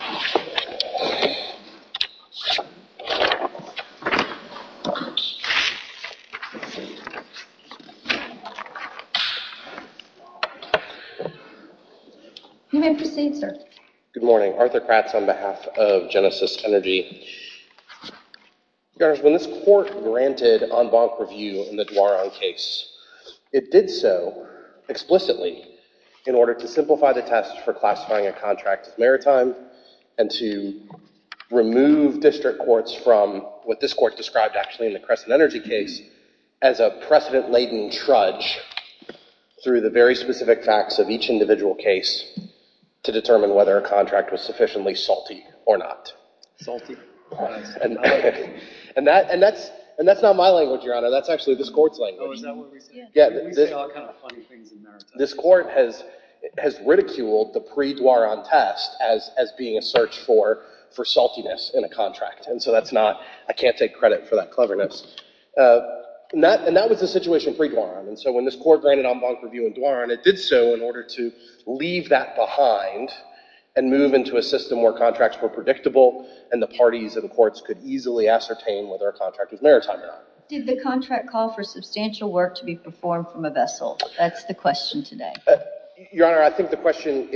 Good morning. Arthur Kratz on behalf of Genesis Energy. When this court granted en banc review in the Duaron case, it did so explicitly in order to simplify the test for classifying a contract with Maritime and to remove district courts from what this court described actually in the Crescent Energy case as a precedent-laden trudge through the very specific facts of each individual case to determine whether a contract was sufficiently salty or not. Salty? And that's not my language, Your Honor. That's actually this court's language. Oh, is that what we say? Yeah. We say all kinds of funny things in Maritime. This court has ridiculed the pre-Duaron test as being a search for saltiness in a contract. And so that's not, I can't take credit for that cleverness. And that was the situation pre-Duaron. And so when this court granted en banc review in Duaron, it did so in order to leave that behind and move into a system where contracts were predictable and the parties of the courts could easily ascertain whether a contract was Maritime or not. Did the contract call for substantial work to be performed from a vessel? That's the question today. Your Honor, I think the question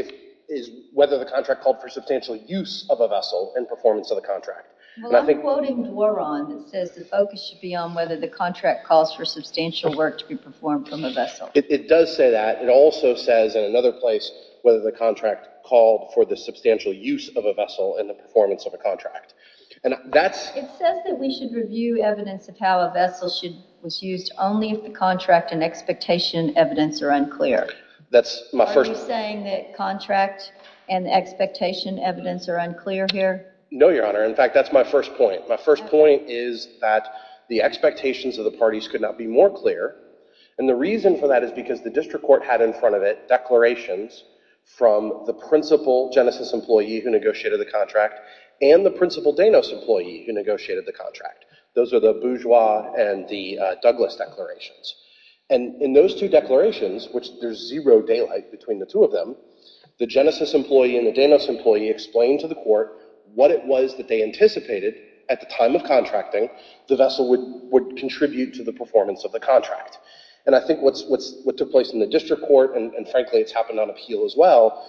is whether the contract called for substantial use of a vessel and performance of the contract. Well, I'm quoting Duaron that says the focus should be on whether the contract calls for substantial work to be performed from a vessel. It does say that. It also says in another place whether the contract called for the substantial use of a vessel and the performance of a contract. It says that we should review evidence of how a vessel was used only if contract and expectation evidence are unclear. Are you saying that contract and expectation evidence are unclear here? No, Your Honor. In fact, that's my first point. My first point is that the expectations of the parties could not be more clear. And the reason for that is because the district court had in front of it declarations from the principal Genesis employee who negotiated the contract and the principal Danos employee who negotiated the contract. Those are the Bourgeois and the Douglas declarations. And in those two declarations, which there's zero daylight between the two of them, the Genesis employee and the Danos employee explained to the court what it was that they anticipated at the time of contracting the vessel would contribute to the performance of the contract. And I think what took place in the district court, and frankly it's happened on Appeal as well,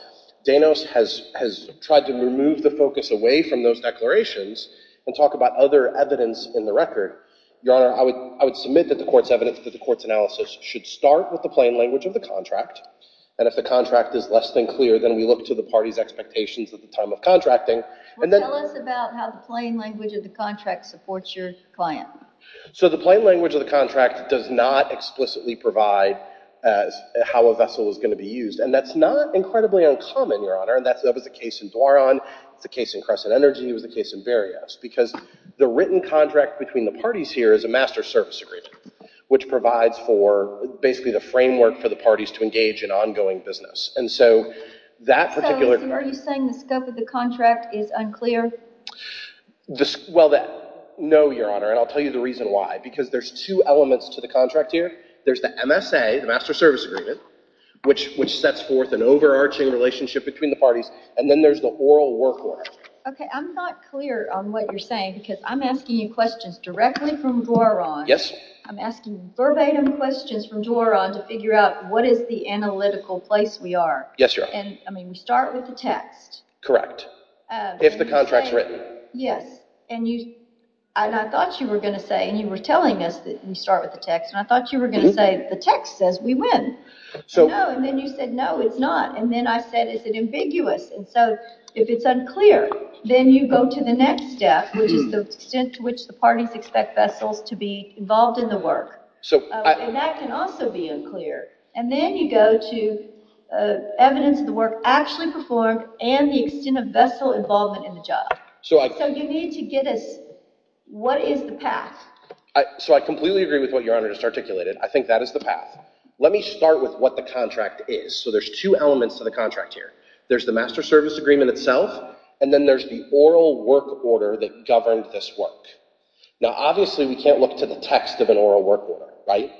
Danos has tried to remove the focus away from those declarations and talk about other evidence in the record. Your Honor, I would submit that the court's evidence, that the court's analysis should start with the plain language of the contract. And if the contract is less than clear, then we look to the party's expectations at the time of contracting. Well, tell us about how the plain language of the contract supports your client. So the plain language of the contract does not explicitly provide how a vessel is going to be used. And that's not incredibly uncommon, Your Honor, and that was the case in Dwaron, it was the case in Crescent Energy, it was the case in Verriest. Because the written contract between the parties here is a master service agreement, which provides for basically the framework for the parties to engage in ongoing business. And so that particular... So are you saying the scope of the contract is unclear? Well, no, Your Honor, and I'll tell you the reasons and why, because there's two elements to the contract here. There's the MSA, the master service agreement, which sets forth an overarching relationship between the parties, and then there's the oral work order. Okay, I'm not clear on what you're saying, because I'm asking you questions directly from Dwaron, I'm asking verbatim questions from Dwaron to figure out what is the analytical place we are. Yes, Your Honor. And, I mean, we start with the text. Correct. If the contract's written. Yes. And I thought you were going to say, and you were telling us that you start with the text, and I thought you were going to say the text says we win. No, and then you said, no, it's not. And then I said, is it ambiguous? And so, if it's unclear, then you go to the next step, which is the extent to which the parties expect vessels to be involved in the work. And that can also be unclear. And then you go to evidence of the work actually performed, and the extent of vessel involvement in the work. So, you need to get us, what is the path? So, I completely agree with what Your Honor just articulated. I think that is the path. Let me start with what the contract is. So, there's two elements to the contract here. There's the master service agreement itself, and then there's the oral work order that governed this work. Now, obviously we can't look to the text of an oral work order, right?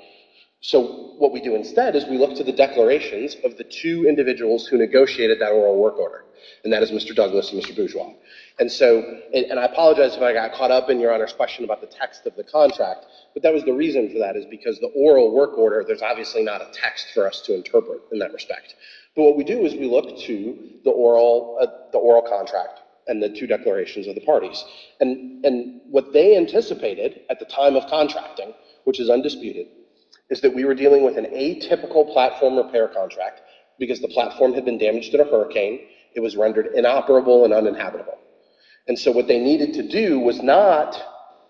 So, what we do instead is we look to the declarations of the two individuals who negotiated that oral work order, and that is Mr. Douglas and Mr. Bourgeois. And so, and I apologize if I got caught up in Your Honor's question about the text of the contract, but that was the reason for that, is because the oral work order, there's obviously not a text for us to interpret in that respect. But what we do is we look to the oral contract and the two declarations of the parties. And what they anticipated at the time of contracting, which is undisputed, is that we were dealing with an atypical platform repair contract, because the platform had been damaged in a way that made it inoperable and uninhabitable. And so, what they needed to do was not,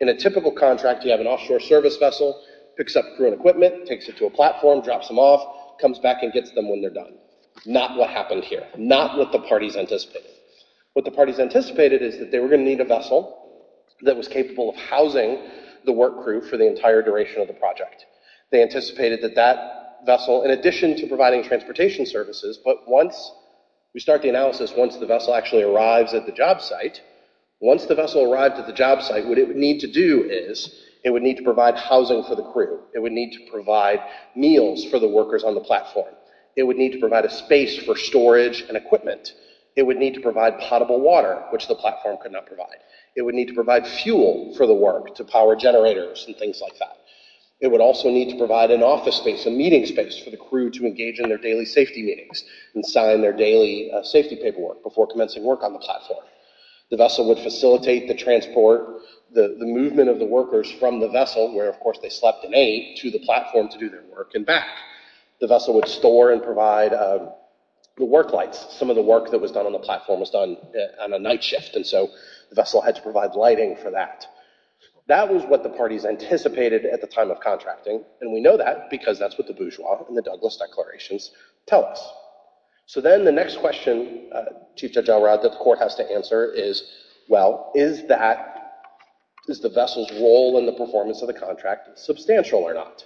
in a typical contract, you have an offshore service vessel, picks up crew and equipment, takes it to a platform, drops them off, comes back and gets them when they're done. Not what happened here. Not what the parties anticipated. What the parties anticipated is that they were going to need a vessel that was capable of housing the work crew for the entire duration of the project. They anticipated that that vessel, in addition to providing transportation services, but once we start the analysis, once the vessel actually arrives at the job site, once the vessel arrived at the job site, what it would need to do is it would need to provide housing for the crew. It would need to provide meals for the workers on the platform. It would need to provide a space for storage and equipment. It would need to provide potable water, which the platform could not provide. It would need to provide fuel for the work to power generators and things like that. It would also need to provide an office space, a meeting space, for the crew to engage in their daily safety meetings and sign their daily safety paperwork before commencing work on the platform. The vessel would facilitate the transport, the movement of the workers from the vessel, where of course they slept and ate, to the platform to do their work and back. The vessel would store and provide the work lights. Some of the work that was done on the platform was done on a night shift and so the vessel had to provide lighting for that. That was what the parties anticipated at the time of contracting and we know that because that's what the Bourgeois and the Douglas declarations tell us. So then the next question, Chief Judge Elrod, that the court has to answer is, well, is that, is the vessel's role in the performance of the contract substantial or not?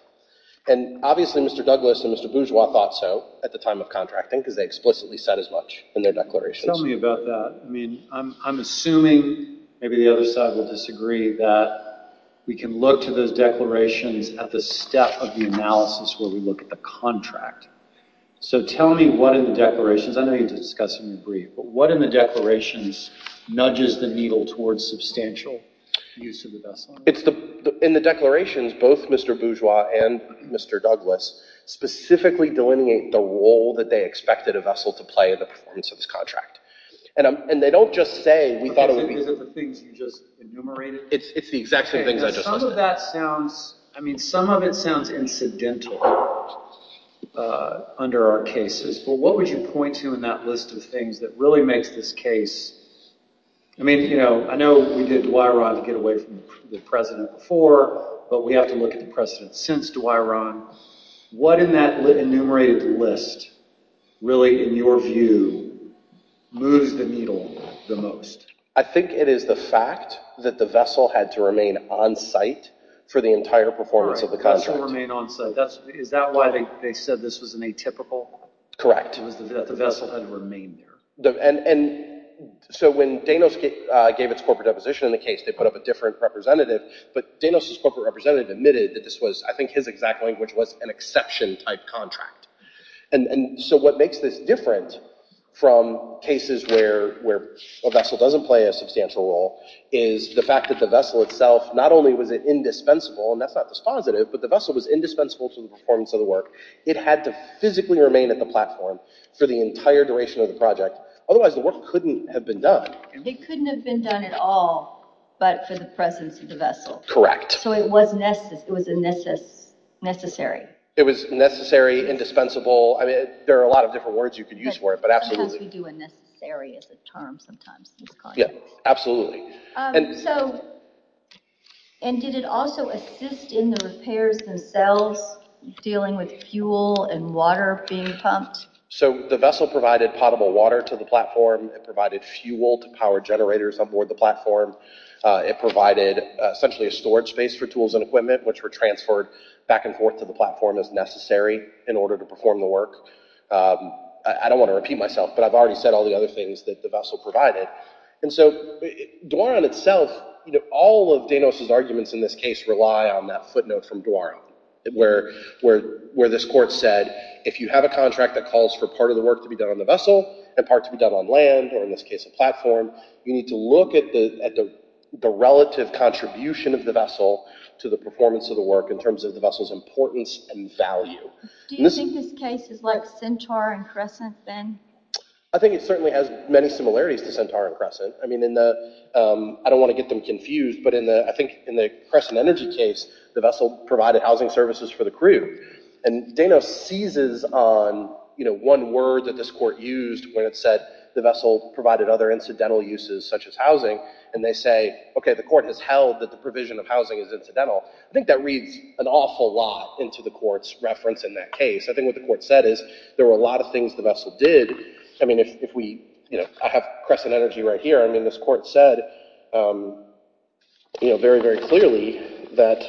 And obviously Mr. Douglas and Mr. Bourgeois thought so at the time of contracting because they explicitly said as much in their declarations. Tell me about that. I mean, I'm assuming maybe the other side will disagree that we can look to those declarations at the step of the analysis where we look at the contract. So tell me what in the declarations, I know you're discussing in brief, but what in the declarations nudges the needle towards substantial use of the vessel? In the declarations, both Mr. Bourgeois and Mr. Douglas specifically delineate the role that they expected a vessel to play in the performance of this contract. And they don't just say, we thought it would be- Is it the things you just enumerated? It's the exact same things I just listed. Some of that sounds, I mean, some of it sounds incidental under our cases, but what would you point to in that list of things that really makes this case, I mean, you know, I know we did Dwyron to get away from the president before, but we have to look at the president since Dwyron. What in that enumerated list really in your view moves the needle the most? I think it is the fact that the vessel had to remain on-site for the entire performance of the contract. Remain on-site. Is that why they said this was an atypical? Correct. That the vessel had to remain there. So when Danos gave its corporate deposition in the case, they put up a different representative, but Danos' corporate representative admitted that this was, I think his exact language was an exception type contract. And so what makes this different from cases where a vessel doesn't play a substantial role is the fact that the vessel itself, not only was it indispensable, and that's not dispositive, but the vessel was indispensable to the performance of the work. It had to physically remain at the platform for the entire duration of the project. Otherwise the work couldn't have been done. It couldn't have been done at all, but for the presence of the vessel. Correct. So it was necessary. It was necessary, indispensable. I mean, there are a lot of different words you could use for it, but absolutely. I guess we do a necessary as a term sometimes in this context. Yeah, absolutely. And did it also assist in the repairs themselves, dealing with fuel and water being pumped? So the vessel provided potable water to the platform. It provided fuel to power generators on board the platform. It provided essentially a storage space for tools and equipment, which were transferred back and forth to the platform as necessary in order to perform the work. I don't want to repeat myself, but I've already said all the other things that the vessel provided. And so Dwaron itself, all of Danos' arguments in this case rely on that footnote from Dwaron, where this court said, if you have a contract that calls for part of the work to be done on the vessel and part to be done on land, or in this case a platform, you need to look at the relative contribution of the vessel to the performance of the work in terms of the vessel's importance and value. Do you think this case is like Centaur and Crescent, Ben? I think it certainly has many similarities to Centaur and Crescent. I mean, I don't want to get them confused, but I think in the Crescent Energy case, the vessel provided housing services for the crew. And Danos seizes on one word that this court used when it said the vessel provided other incidental uses, such as housing, and they say, okay, the court has held that the provision of housing is incidental. I think that reads an awful lot into the court's reference in that case. I think what the court said is there were a lot of things the vessel did. I mean, if we, you know, I have Crescent Energy right here. I mean, this court said, you know, very, very clearly that—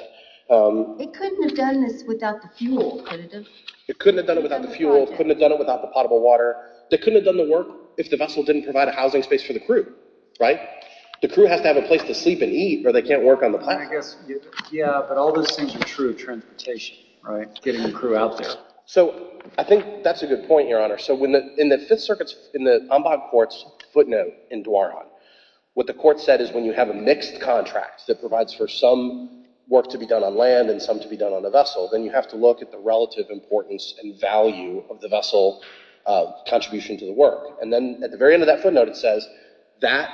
It couldn't have done this without the fuel, could it have? It couldn't have done it without the fuel, couldn't have done it without the potable water. They couldn't have done the work if the vessel didn't provide a housing space for the crew, right? The crew has to have a place to sleep and eat, or they can't work on the platform. Yeah, but all those things are true of transportation, right? Getting the crew out there. So I think that's a good point, Your Honor. So in the Fifth Circuit's, in the Ombud Court's footnote in Dwarhan, what the court said is when you have a mixed contract that provides for some work to be done on land and some to be done on a vessel, then you have to look at the relative importance and value of the vessel contribution to the work. And then at the very end of that footnote, it says that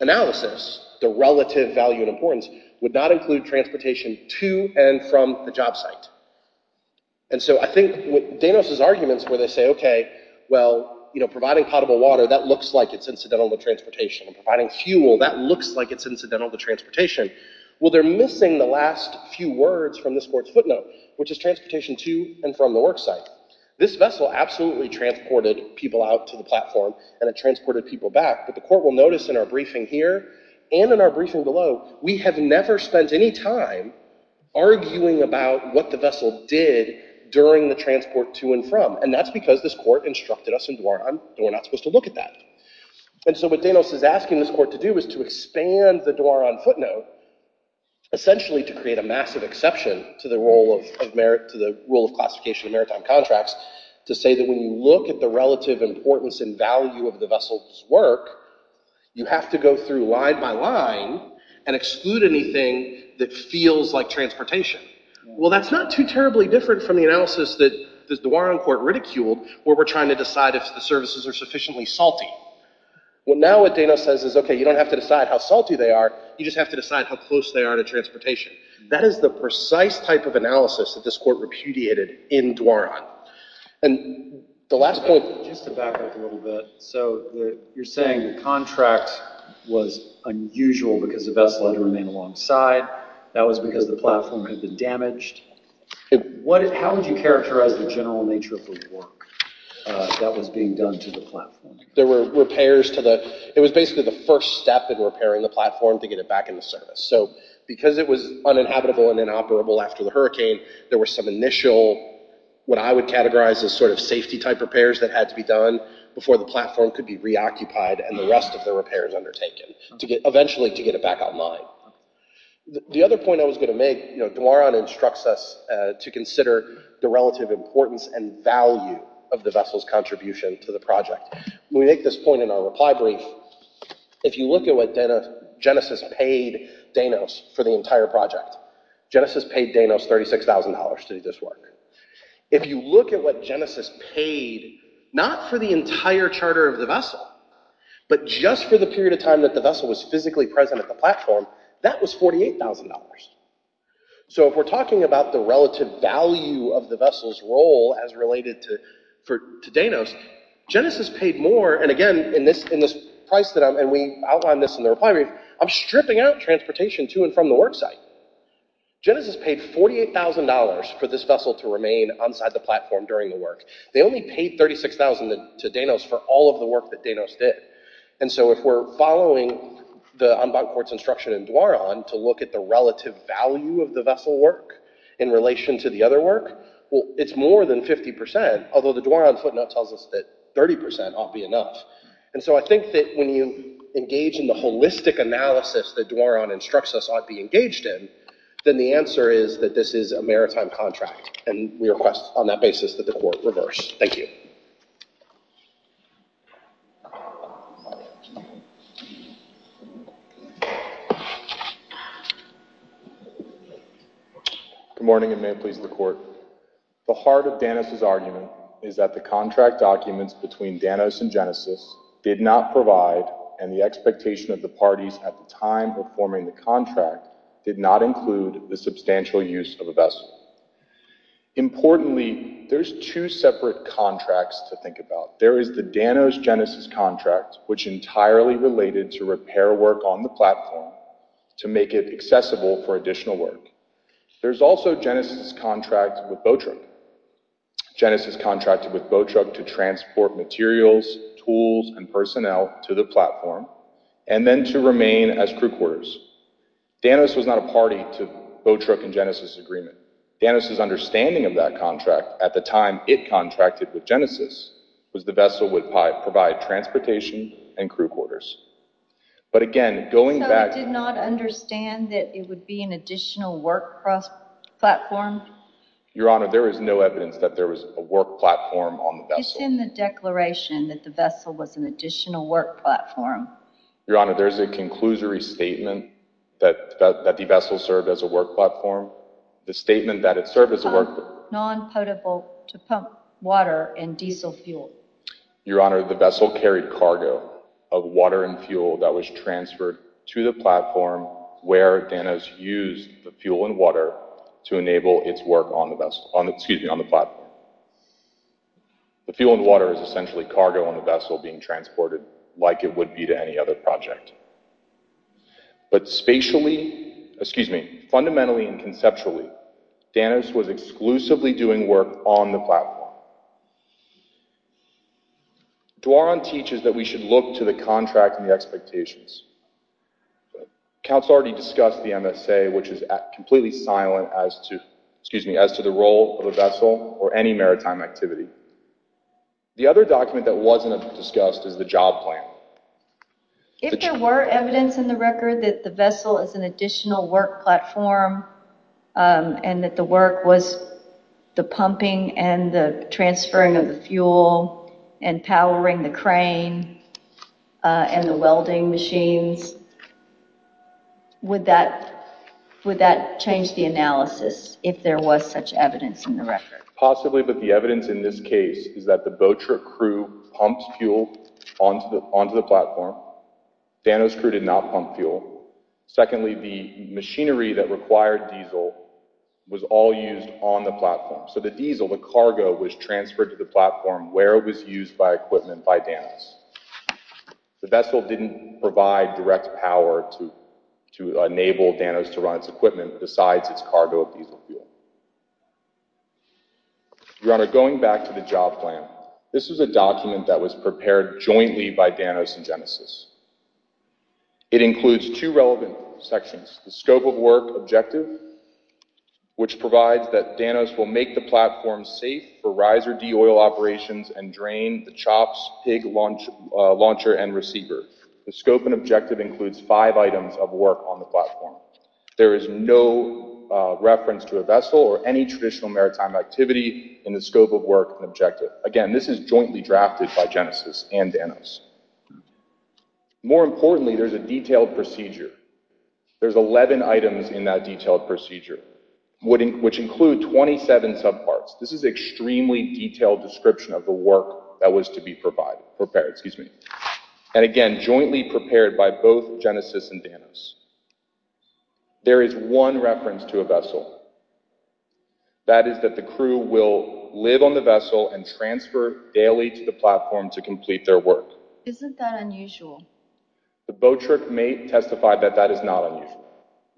analysis, the relative value and importance, would not include transportation to and from the job site. And so I think Danos' arguments where they say, OK, well, providing potable water, that looks like it's incidental to transportation. Providing fuel, that looks like it's incidental to transportation. Well, they're missing the last few words from this court's footnote, which is transportation to and from the work site. This vessel absolutely transported people out to the platform, and it transported people back. But the court will notice in our briefing here and in our briefing below, we have never spent any time arguing about what the vessel did during the transport to and from. And that's because this court instructed us in Dwarhan, and we're not supposed to look at that. And so what Danos is asking this court to do is to expand the Dwarhan footnote, essentially to create a massive exception to the rule of merit, to the rule of classification of maritime contracts, to say that when you look at the relative importance and value of the vessel's work, you have to go through line by line and exclude anything that feels like transportation. Well, that's not too terribly different from the analysis that the Dwarhan court ridiculed, where we're trying to decide if the services are sufficiently salty. Well, now what Danos says is, OK, you don't have to decide how salty they are. You just have to decide how close they are to transportation. That is the precise type of analysis that this court repudiated in Dwarhan. And the last point, just to back up a little bit, so you're saying the contract was unusual because the vessel had to remain alongside. That was because the platform had been damaged. How would you characterize the general nature of the work that was being done to the platform? There were repairs to the... It was basically the first step in repairing the platform to get it back into service. So because it was uninhabitable and inoperable after the hurricane, there were some initial, what I would categorize as sort of safety type repairs that had to be done before the platform could be reoccupied and the rest of the repairs undertaken, eventually to get it back online. The other point I was going to make, Dwarhan instructs us to consider the relative importance and value of the vessel's contribution to the project. We make this point in our reply brief. If you look at what Genesis paid Danos for the entire project, Genesis paid Danos $36,000 to do this work. If you look at what Genesis paid, not for the entire charter of the vessel, but just for the period of time that the vessel was physically present at the platform, that was $48,000. So if we're talking about the relative value of the vessel's role as related to Danos, Genesis paid more. And again, in this price that I'm... And we outlined this in the reply brief, I'm stripping out transportation to and from the work site. Genesis paid $48,000 for this vessel to remain outside the platform during the work. They only paid $36,000 to Danos for all of the work that Danos did. And so if we're following the Umbach court's instruction in Dwarhan to look at the relative value of the vessel work in relation to the other work, well, it's more than 50%, although the Dwarhan footnote tells us that 30% ought be enough. And so I think that when you engage in the holistic analysis that Dwarhan instructs us ought to be engaged in, then the answer is that this is a maritime contract. And we request on that basis that the court reverse. Thank you. Good morning, and may it please the court. The heart of Danos's argument is that the contract documents between Danos and Genesis did not provide, and the expectation of the parties at the time performing the contract did not include the substantial use of a vessel. Importantly, there's two separate contracts to think about. There is the Danos-Genesis contract, which entirely related to repair work on the platform to make it accessible for additional work. There's also Genesis' contract with Boatrook. Genesis contracted with Boatrook to transport materials, tools, and personnel to the platform, and then to remain as crew quarters. Danos was not a party to Boatrook and Genesis' agreement. Danos's understanding of that contract at the time it contracted with Genesis was the vessel would provide transportation and crew quarters. But again, going back- Would there be an additional work platform? Your Honor, there is no evidence that there was a work platform on the vessel. It's in the declaration that the vessel was an additional work platform. Your Honor, there's a conclusory statement that the vessel served as a work platform. The statement that it served as a work platform- Non-potable to pump water and diesel fuel. Your Honor, the vessel carried cargo of water and fuel that was transferred to the platform where Danos used the fuel and water to enable its work on the platform. The fuel and water is essentially cargo on the vessel being transported like it would be to any other project. But spatially- Excuse me. Fundamentally and conceptually, Danos was exclusively doing work on the platform. Duaron teaches that we should look to the contract and the expectations. The counsel already discussed the MSA, which is completely silent as to the role of the vessel or any maritime activity. The other document that wasn't discussed is the job plan. If there were evidence in the record that the vessel is an additional work platform and that the work was the pumping and the transferring of the fuel and powering the crane and the welding machines, would that change the analysis if there was such evidence in the record? Possibly, but the evidence in this case is that the Boatrick crew pumped fuel onto the platform. Danos crew did not pump fuel. Secondly, the machinery that required diesel was all used on the platform. So the diesel, the cargo, was transferred to the platform where it was used by equipment by Danos. The vessel didn't provide direct power to enable Danos to run its equipment besides its cargo of diesel fuel. Your Honor, going back to the job plan, this is a document that was prepared jointly by Danos and Genesis. It includes two relevant sections, the scope of work objective, which provides that Danos will make the platform safe for riser de-oil operations and drain the chops, pig launcher, and receiver. The scope and objective includes five items of work on the platform. There is no reference to a vessel or any traditional maritime activity in the scope of work and objective. Again, this is jointly drafted by Genesis and Danos. More importantly, there's a detailed procedure. There's 11 items in that detailed procedure, which include 27 subparts. This is an extremely detailed description of the work that was to be prepared. Again, jointly prepared by both Genesis and Danos. There is one reference to a vessel. That is that the crew will live on the vessel and transfer daily to the platform to complete their work. Isn't that unusual? The boat trip may testify that that is not unusual.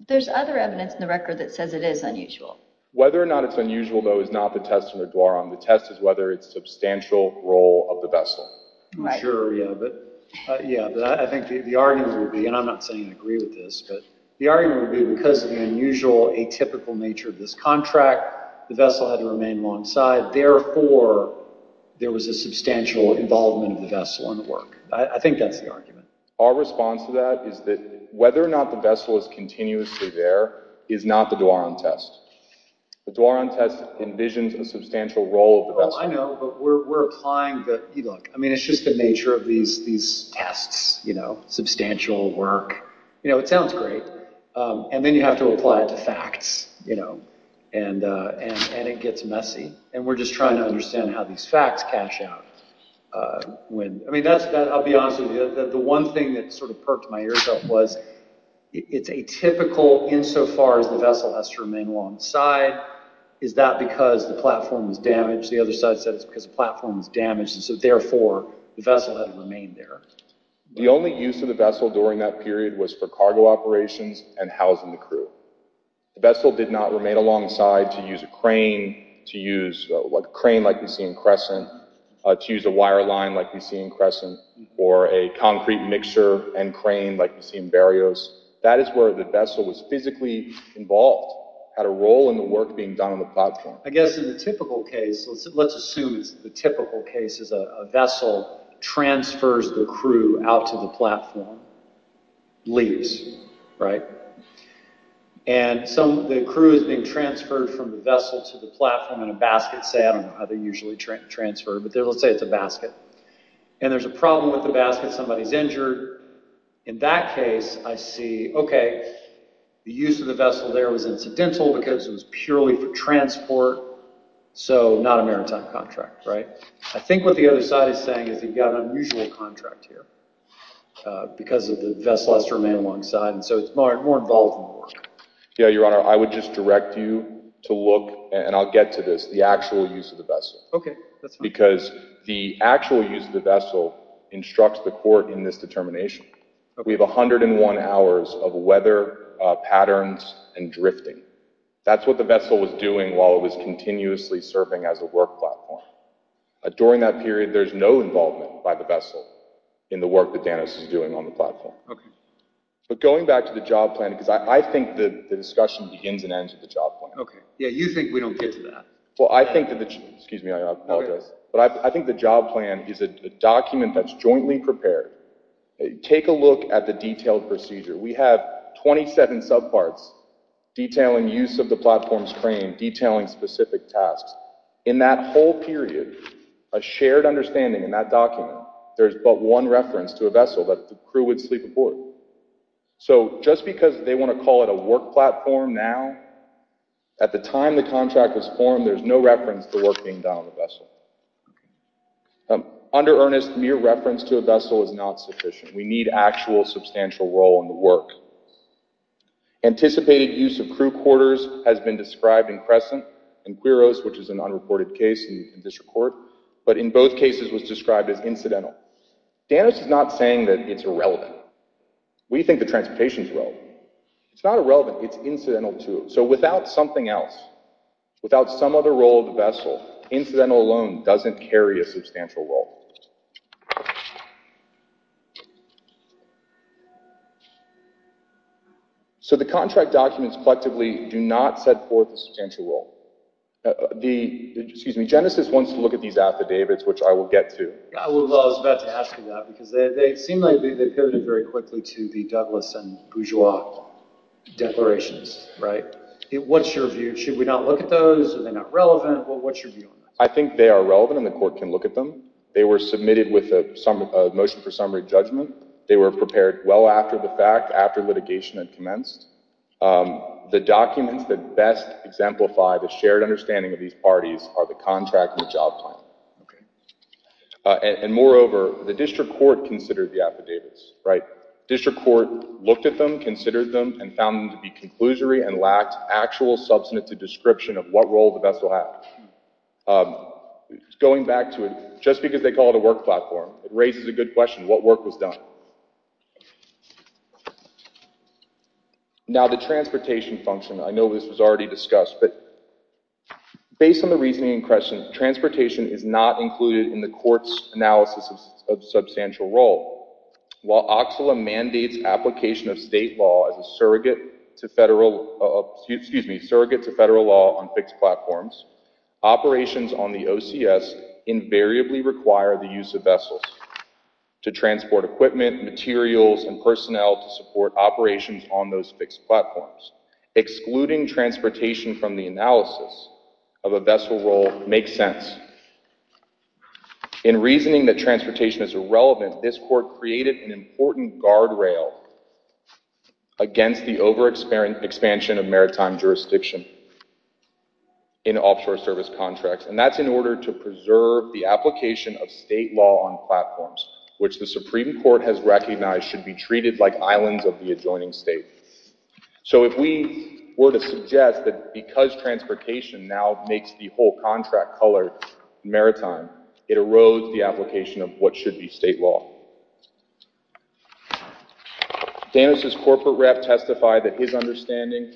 There's other evidence in the record that says it is unusual. Whether or not it's unusual, though, is not the test in the Dwaron. The test is whether it's substantial role of the vessel. I'm sure, yeah, but I think the argument would be, and I'm not saying I agree with this, but the argument would be because of the unusual, atypical nature of this contract, the vessel had to remain on one side. Therefore, there was a substantial involvement of the vessel in the work. I think that's the argument. Our response to that is that whether or not the vessel is continuously there is not the Dwaron test. The Dwaron test envisions a substantial role of the vessel. I know, but we're applying the... Look, it's just the nature of these tests. Substantial work. It sounds great, and then you have to apply it to facts, and it gets messy. We're just trying to understand how these facts cash out. I'll be honest with you. The one thing that perked my ears up was, it's atypical insofar as the vessel has to remain alongside. Is that because the platform is damaged? The other side said it's because the platform is damaged, and so therefore, the vessel had to remain there. The only use of the vessel during that period was for cargo operations and housing the crew. The vessel did not remain alongside to use a crane, to use a crane like we see in Crescent, to use a wire line like we see in Crescent, or a concrete mixture and crane like we see in Barrios. That is where the vessel was physically involved, had a role in the work being done on the platform. I guess in the typical case, let's assume it's the typical case is a vessel transfers the crew out to the platform, leaves. The crew is being transferred from the vessel to the platform in a basket, say. I don't know how they usually transfer, but let's say it's a basket. There's a problem with the basket. Somebody's injured. In that case, I see, okay, the use of the vessel there was incidental because it was purely for transport, so not a maritime contract, right? I think what the other side is saying is they've got an unusual contract here because the vessel has to remain alongside, and so it's more involved in the work. Yeah, Your Honor, I would just direct you to look, and I'll get to this, the actual use of the vessel. Okay, that's fine. Because the actual use of the vessel instructs the court in this determination. We have 101 hours of weather patterns and drifting. That's what the vessel was doing while it was continuously serving as a work platform. During that period, there's no involvement by the vessel in the work that Danos is doing on the platform. Going back to the job plan, because I think the discussion begins and ends with the job plan. Okay, yeah, you think we don't get to that. Well, I think the job plan is a document that's jointly prepared. Take a look at the detailed procedure. We have 27 subparts detailing use of the platform's frame, detailing specific tasks. In that whole period, a shared understanding in that document, there's but one reference to a vessel that the crew would sleep aboard. So just because they want to call it a work platform now, at the time the contract was formed, there's no reference to work being done on the vessel. Under earnest, mere reference to a vessel is not sufficient. We need actual substantial role in the work. Anticipated use of crew quarters has been described in Crescent and Quiros, which is an unreported case in district court. But in both cases was described as incidental. Danos is not saying that it's irrelevant. We think the transportation's relevant. It's not irrelevant, it's incidental to it. So without something else, without some other role of the vessel, incidental alone doesn't carry a substantial role. So the contract documents collectively do not set forth a substantial role. Genesis wants to look at these affidavits, which I will get to. Well, I was about to ask you that, because they seem like they pivoted very quickly to the Douglas and Bourgeois declarations, right? What's your view? Should we not look at those? Are they not relevant? Well, what's your view on that? I think they are relevant and the court can look at them. They were submitted with a motion for summary judgment. They were prepared well after the fact, after litigation had commenced. The documents that best exemplify the shared understanding of these parties are the contract and the job plan. And moreover, the district court considered the affidavits, right? District court looked at them, considered them, and found them to be conclusory and lacked actual substantive description of what role the vessel had. Going back to it, just because they call it a work platform, it raises a good question, what work was done? Now the transportation function, I know this was already discussed, but based on the reasoning in question, transportation is not included in the court's analysis of substantial role. While OCSLA mandates application of state law as a surrogate to federal law on fixed platforms, operations on the OCS invariably require the use of vessels to transport equipment, materials, and personnel to support operations on those fixed platforms. Excluding transportation from the analysis of a vessel role makes sense. In reasoning that transportation is irrelevant, this court created an important guardrail against the overexpansion of maritime jurisdiction in offshore service contracts. And that's in order to preserve the application of state law on platforms, which the Supreme Court has recognized should be treated like islands of the adjoining state. So if we were to suggest that because transportation now makes the whole contract colored maritime, it erodes the application of what should be state law. Danis' corporate rep testified that his understanding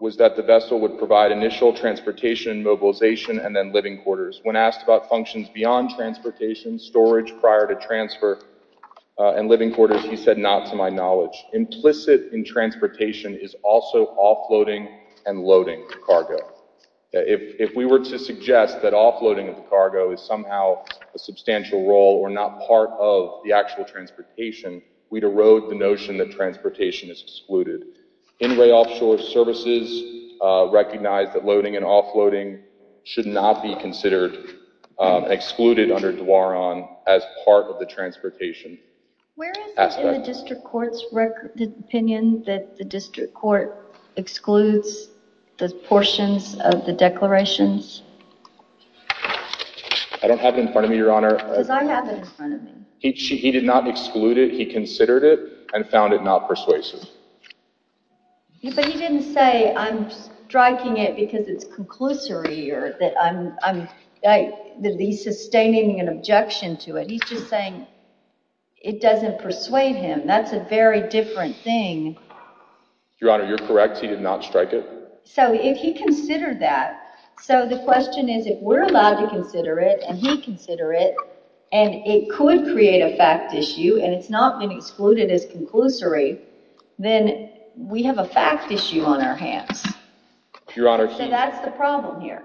was that the vessel would provide initial transportation, mobilization, and then living quarters. When asked about functions beyond transportation, storage prior to transfer, and living quarters, he said, not to my knowledge. Implicit in transportation is also offloading and loading the cargo. If we were to suggest that offloading of the cargo is somehow a substantial role or not part of the actual transportation, we'd erode the notion that transportation is excluded. In Ray Offshore services recognize that loading and offloading should not be considered and excluded under the law as part of the transportation aspect. Where is it in the District Court's opinion that the District Court excludes the portions of the declarations? I don't have it in front of me, Your Honor. Because I have it in front of me. He did not exclude it. He considered it and found it not persuasive. But he didn't say, I'm striking it because it's conclusory or that I'm, that he's sustaining an objection to it. He's just saying it doesn't persuade him. That's a very different thing. Your Honor, you're correct. He did not strike it. So if he considered that, so the question is if we're allowed to consider it and he'd consider it and it could create a fact issue and it's not been excluded as conclusory, then we have a fact issue on our hands. So that's the problem here.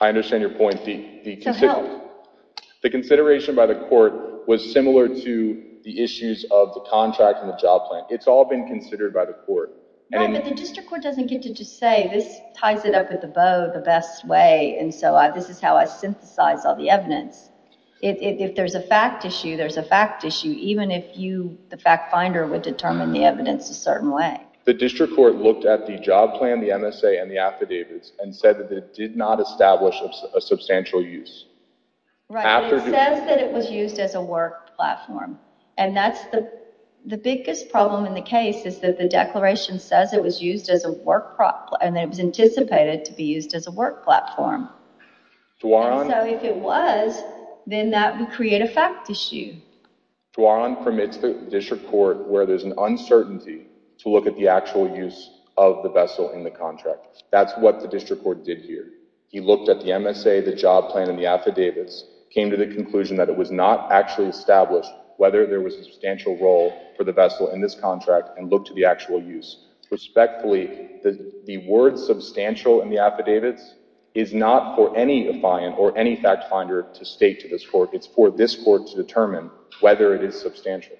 I understand your point. So how? The consideration by the court was similar to the issues of the contract and the job plan. It's all been considered by the court. No, but the District Court doesn't get to just say, this ties it up at the bow the best way and so this is how I synthesize all the evidence. If there's a fact issue, there's a fact issue, even if you, the fact finder, would determine the evidence a certain way. The District Court looked at the job plan, the MSA, and the affidavits and said that it did not establish a substantial use. Right. It says that it was used as a work platform and that's the biggest problem in the case is that the declaration says it was used as a work platform and that it was anticipated to be used as a work platform. So if it was, then that would create a fact issue. Duaron permits the District Court where there's an uncertainty to look at the actual use of the vessel in the contract. That's what the District Court did here. He looked at the MSA, the job plan, and the affidavits, came to the conclusion that it was not actually established whether there was a substantial role for the vessel in this contract and looked at the actual use. Respectfully, the word substantial in the affidavits is not for any fact finder to state to this Court. It's for this Court to determine whether it is substantial.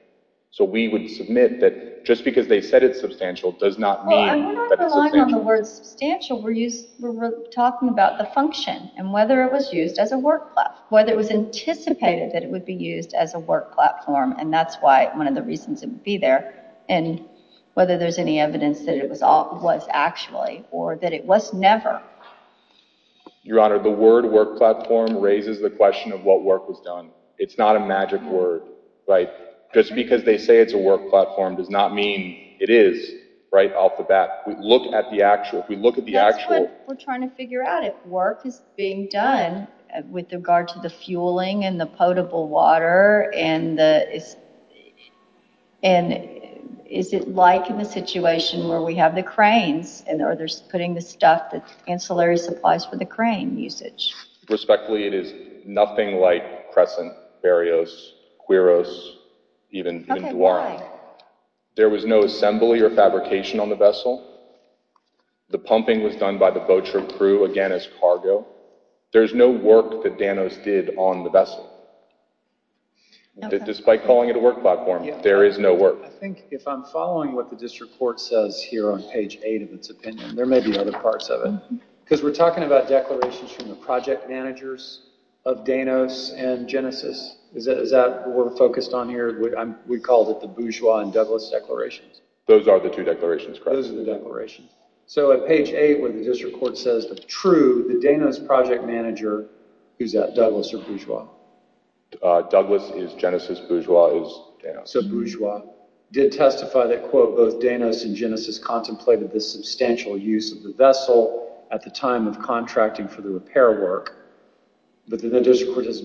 So we would submit that just because they said it's substantial does not mean that it's substantial. I'm not relying on the word substantial. We're talking about the function and whether it was used as a work platform, whether it was anticipated that it would be used as a work platform and that's why one of the reasons it would be there and whether there's any evidence that it was actually or that it was never. Your question raises the question of what work was done. It's not a magic word. Just because they say it's a work platform does not mean it is. We look at the actual. That's what we're trying to figure out. If work is being done with regard to the fueling and the potable water and is it like in the situation where we have the cranes and are they putting the stuff, the ancillary supplies for the crane usage? Respectfully, it is nothing like Crescent, Berrios, Quiros, even Duaron. There was no assembly or fabrication on the vessel. The pumping was done by the voucher crew again as cargo. There's no work that Danos did on the vessel. Despite calling it a work platform, there is no work. I think if I'm following what the district court says here on page 8 of its opinion, there may be other parts of it, because we're talking about declarations from the project managers of Danos and Genesis. Is that what we're focused on here? We called it the Bourgeois and Douglas declarations. Those are the two declarations, correct? Those are the declarations. At page 8 where the district court says the true, the Danos project manager, is that Douglas or Bourgeois? Douglas is Genesis, Bourgeois is Danos. Bourgeois did testify that both Danos and Genesis contemplated the substantial use of the vessel at the time of contracting for the repair work, but the district court says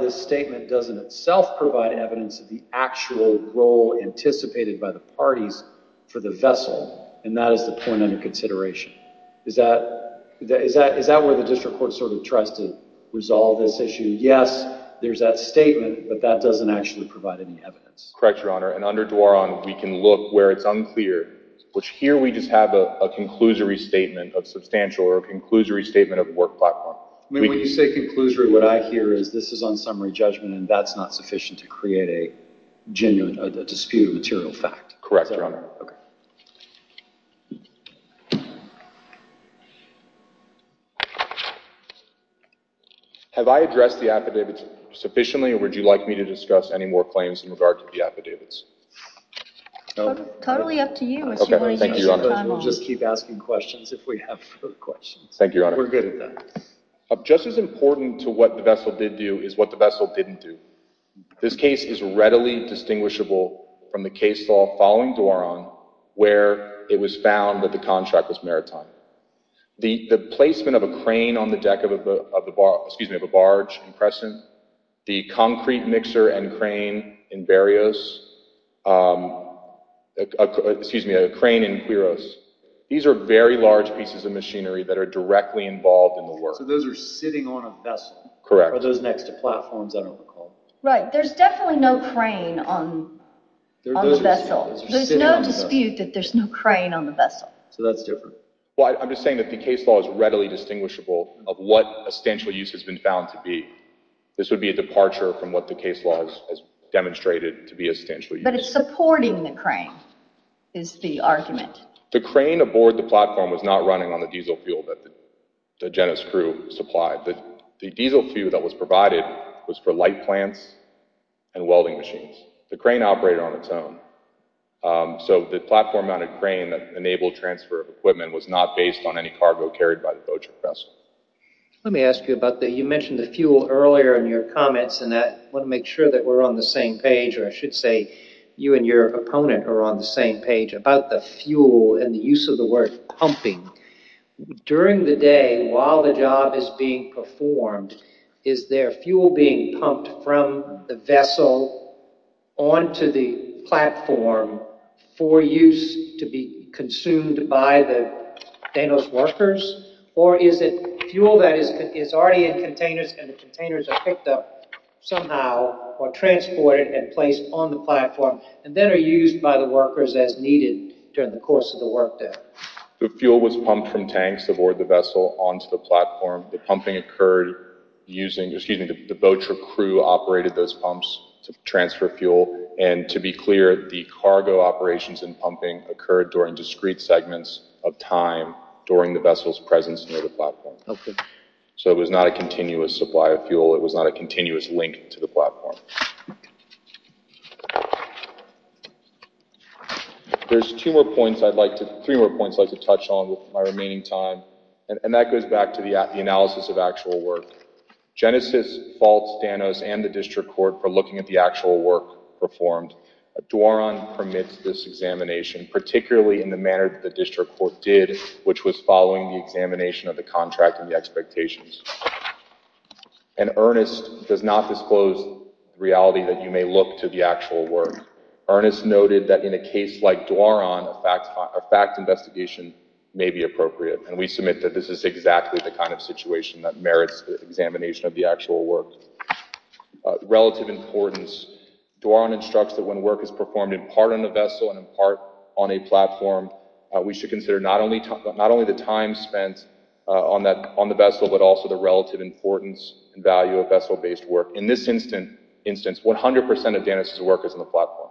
this statement doesn't itself provide evidence of the actual role anticipated by the parties for the vessel and that is the point under consideration. Is that where the district court sort of tries to resolve this issue? Yes, there's that statement, but that doesn't actually provide any evidence. Correct, Your Honor, and under Dwaron, we can look where it's unclear, which here we just have a conclusory statement of substantial or a conclusory statement of work platform. When you say conclusory, what I hear is this is on summary judgment and that's not sufficient to create a dispute of material fact. Correct, Your Honor. Have I addressed the affidavits sufficiently or would you like me to discuss any more claims in regard to the affidavits? Totally up to you. Thank you, Your Honor. We'll just keep asking questions if we have further questions. Thank you, Your Honor. We're good at that. Just as important to what the vessel did do is what the vessel didn't do. This case is readily distinguishable from the case law following Dwaron where it was found that the contract was maritime. The placement of a crane on the deck of a barge, the concrete mixer and crane in Barrios, excuse me, a crane in Quiros, these are very large pieces of machinery that are directly involved in the work. So those are sitting on a vessel? Correct. Are those next to platforms? I don't recall. Right, there's definitely no crane on the vessel. So that's different. Well, I'm just saying that the case law is readily distinguishable of what a stanchial use has been found to be. This would be a departure from what the case law has demonstrated to be a stanchial use. But it's supporting the crane is the argument. The crane aboard the platform was not running on the diesel fuel that Jenna's crew supplied. The diesel fuel that was provided was for light plants and welding machines. The crane operated on its own. So the platform on a crane that enabled transfer of equipment was not based on any cargo carried by the boat or vessel. Let me ask you about that. You mentioned the fuel earlier in your comments and I want to make sure that we're on the same page or I should say you and your opponent are on the same page about the fuel and the use of the word pumping. During the day while the job is being performed, is there fuel being pumped from the vessel onto the platform for use to be consumed by the Danos workers or is it fuel that is already in containers and the containers are picked up somehow or transported and placed on the platform and then are used by the workers as needed during the course of the work day? The fuel was pumped from tanks aboard the vessel onto the platform. The pumping occurred using, excuse me, the boat crew operated those pumps to transfer fuel and to be clear the cargo operations and pumping occurred during discrete segments of time during the vessel's presence near the platform. So it was not a continuous supply of fuel. It was not a continuous link to the platform. There's two more points I'd like to, three more points I'd like to touch on with my remaining time and that goes back to the analysis of actual work. Genesis faults Danos and the district court for looking at the actual work performed. Dworon permits this examination particularly in the manner the district court did which was following the examination of the contract and the expectations. And Ernest does not disclose reality that you may look to the actual work. Ernest noted that in a case like Dworon a fact investigation may be appropriate and we submit that this is exactly the kind of situation that merits the examination of the actual work. Relative importance, Dworon instructs that when work is performed in part on the vessel and in part on a platform we should consider not only the time spent on the vessel but also the relative importance and value of vessel based work. In this instance 100% of Danos' work is on the platform.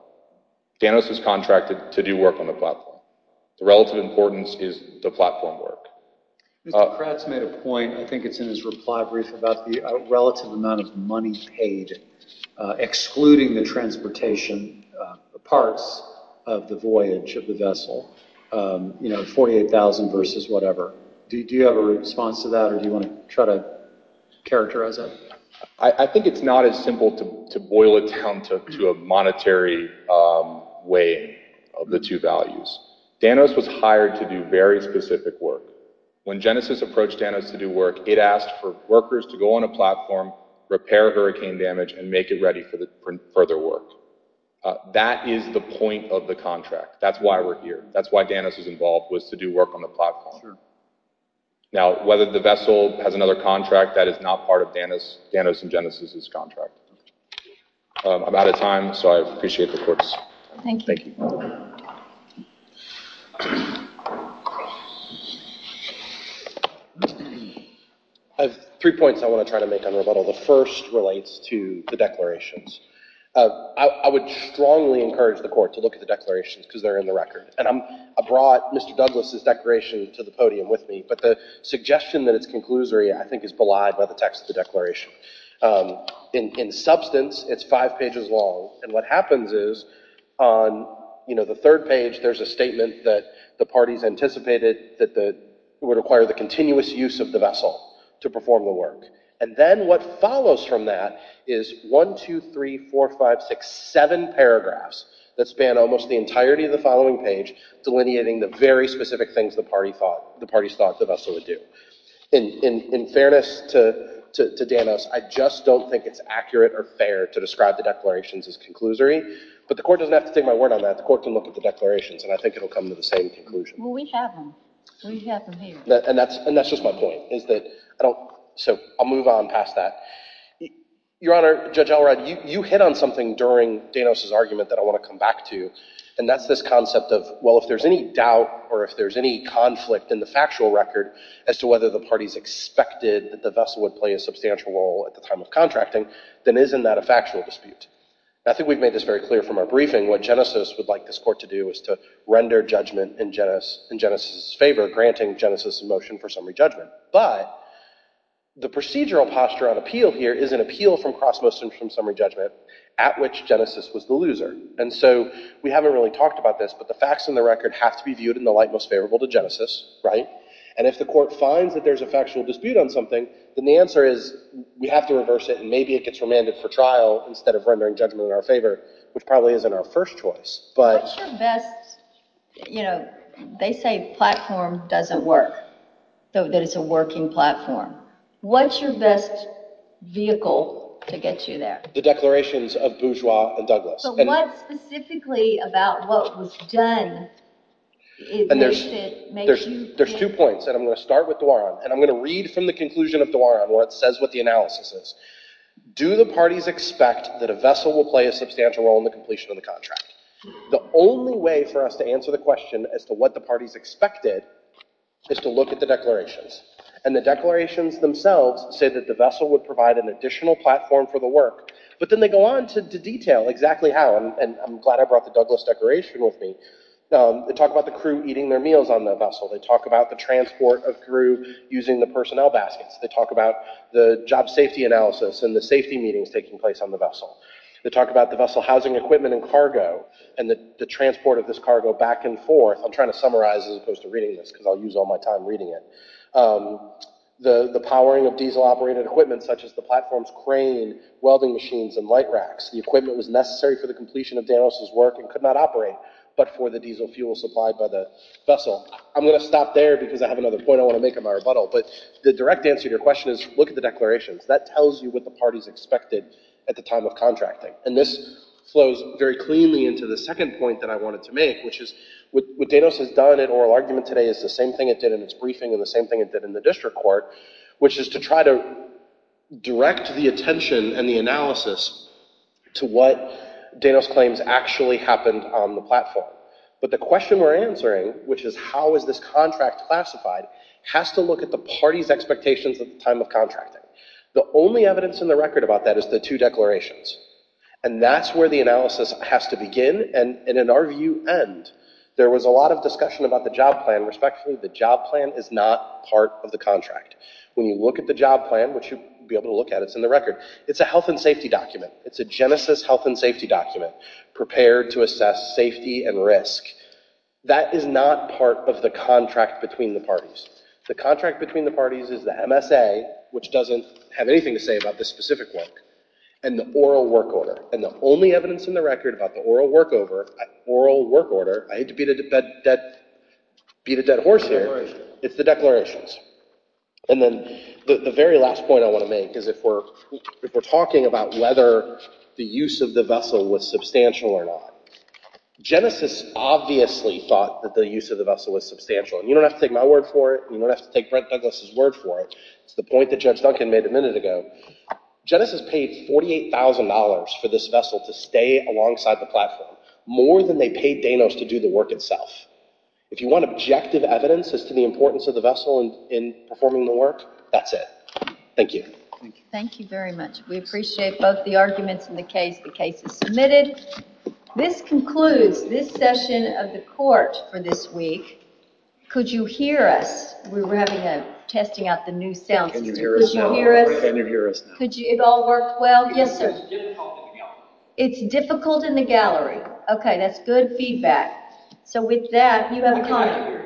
Danos was contracted to do work on the platform. The relative importance is the platform work. Mr. Pratt's made a point I think it's in his reply brief about the relative amount of money paid excluding the transportation parts of the voyage of the vessel, you know 48,000 versus whatever. Do you have a response to that or do you want to try to characterize that? I think it's not as simple to boil it down to a monetary way of the two values. Danos was hired to do very specific work. When Genesis approached Danos to do work it asked for workers to go on a platform, repair hurricane damage and make it ready for further work. That is the point of the contract. That's why we're here. That's why Danos was involved was to do work on the platform. Now whether the vessel has another contract that is not part of Danos and Genesis' contract. I'm out of time so I appreciate the courts. Thank you. I have three points I want to try to make on rebuttal. The first relates to the declarations. I would strongly encourage the court to look at the declarations because they're in the record. I brought Mr. Douglas' declaration to the I think is belied by the text of the declaration. In substance it's five pages long and what happens is on the third page there's a statement that the parties anticipated that it would require the continuous use of the vessel to perform the work. And then what follows from that is one, two, three, four, five, six, seven paragraphs that span almost the entirety of the following page delineating the very specific things the parties thought the vessel would do. In fairness to Danos, I just don't think it's accurate or fair to describe the declarations as conclusory but the court doesn't have to take my word on that. The court can look at the declarations and I think it will come to the same conclusion. Well we have them. We have them here. And that's just my point is that I don't so I'll move on past that. Your Honor, Judge Elrod, you hit on something during Danos' argument that I want to come back to and that's this concept of well if there's any doubt or if there's any conflict in the factual record as to whether the parties expected that the vessel would play a substantial role at the time of contracting then isn't that a factual dispute. I think we've made this very clear from our briefing what Genesis would like this court to do is to render judgment in Genesis' favor granting Genesis' motion for summary judgment. But the procedural posture on appeal here is an appeal from cross motion from summary judgment at which Genesis was the loser. And so we haven't really talked about this but the facts in the record have to be viewed in the light most favorable to Genesis, right? And if the court finds that there's a factual dispute on something then the answer is we have to reverse it and maybe it gets remanded for trial instead of rendering judgment in our favor which probably isn't our first choice. What's your best, you know, they say platform doesn't work. That it's a working platform. What's your best vehicle to get you there? The declarations of Bourgeois and Douglas. So what specifically about what was done is worth it? There's two points and I'm going to start with Duaron and I'm going to read from the conclusion of Duaron where it says what the analysis is. Do the parties expect that a vessel will play a substantial role in the completion of the contract? The only way for us to answer the question as to what the parties expected is to look at the declarations and the declarations themselves say that the vessel would provide an additional platform for the work. But then they go on to detail exactly how and I'm glad I brought the Douglas declaration with me. They talk about the crew eating their meals on the vessel. They talk about the transport of crew using the personnel baskets. They talk about the job safety analysis and the safety meetings taking place on the vessel. They talk about the vessel housing equipment and cargo and the transport of this cargo back and forth. I'm trying to summarize as opposed to reading this because I'll use all my time reading it. The powering of diesel operated equipment such as the platforms, crane, welding machines and light racks. The equipment was necessary for the completion of Danos' work and could not operate but for the diesel fuel supplied by the vessel. I'm going to stop there because I have another point I want to make in my rebuttal but the direct answer to your question is look at the declarations. That tells you what the parties expected at the time of contracting and this flows very cleanly into the second point that I wanted to make which is what Danos has done in oral argument today is the same thing it did in its briefing and the district court which is to try to direct the attention and the analysis to what Danos claims actually happened on the platform but the question we're answering which is how is this contract classified has to look at the parties expectations at the time of contracting. The only evidence in the record about that is the two declarations and that's where the analysis has to begin and in our view end. There was a lot of discussion about the job plan respectfully the job plan is not part of the contract. When you look at the job plan which you'll be able to look at it's in the record. It's a health and safety document. It's a genesis health and safety document prepared to assess safety and risk. That is not part of the contract between the parties. The contract between the parties is the MSA which doesn't have anything to say about this specific work and the oral work order and the only evidence in the record about the oral work order. I hate to beat a dead horse here. It's the declarations. And then the very last point I want to make is if we're talking about whether the use of the vessel was substantial or not. Genesis obviously thought that the use of the vessel was substantial. You don't have to take my word for it. You don't have to take Brent Douglas' word for it. It's the point that Judge Duncan made a vessel to stay alongside the platform. More than they paid Danos to do the work itself. If you want objective evidence as to the importance of the vessel in performing the work, that's it. Thank you. Thank you very much. We appreciate both the arguments and the case. The case is submitted. This concludes this session of the court for this week. Could you hear us? We were testing out the new sound system. Could you hear us? It all worked well? Yes, sir. It's difficult in the gallery. Okay, that's good feedback. So with that, you have a comment.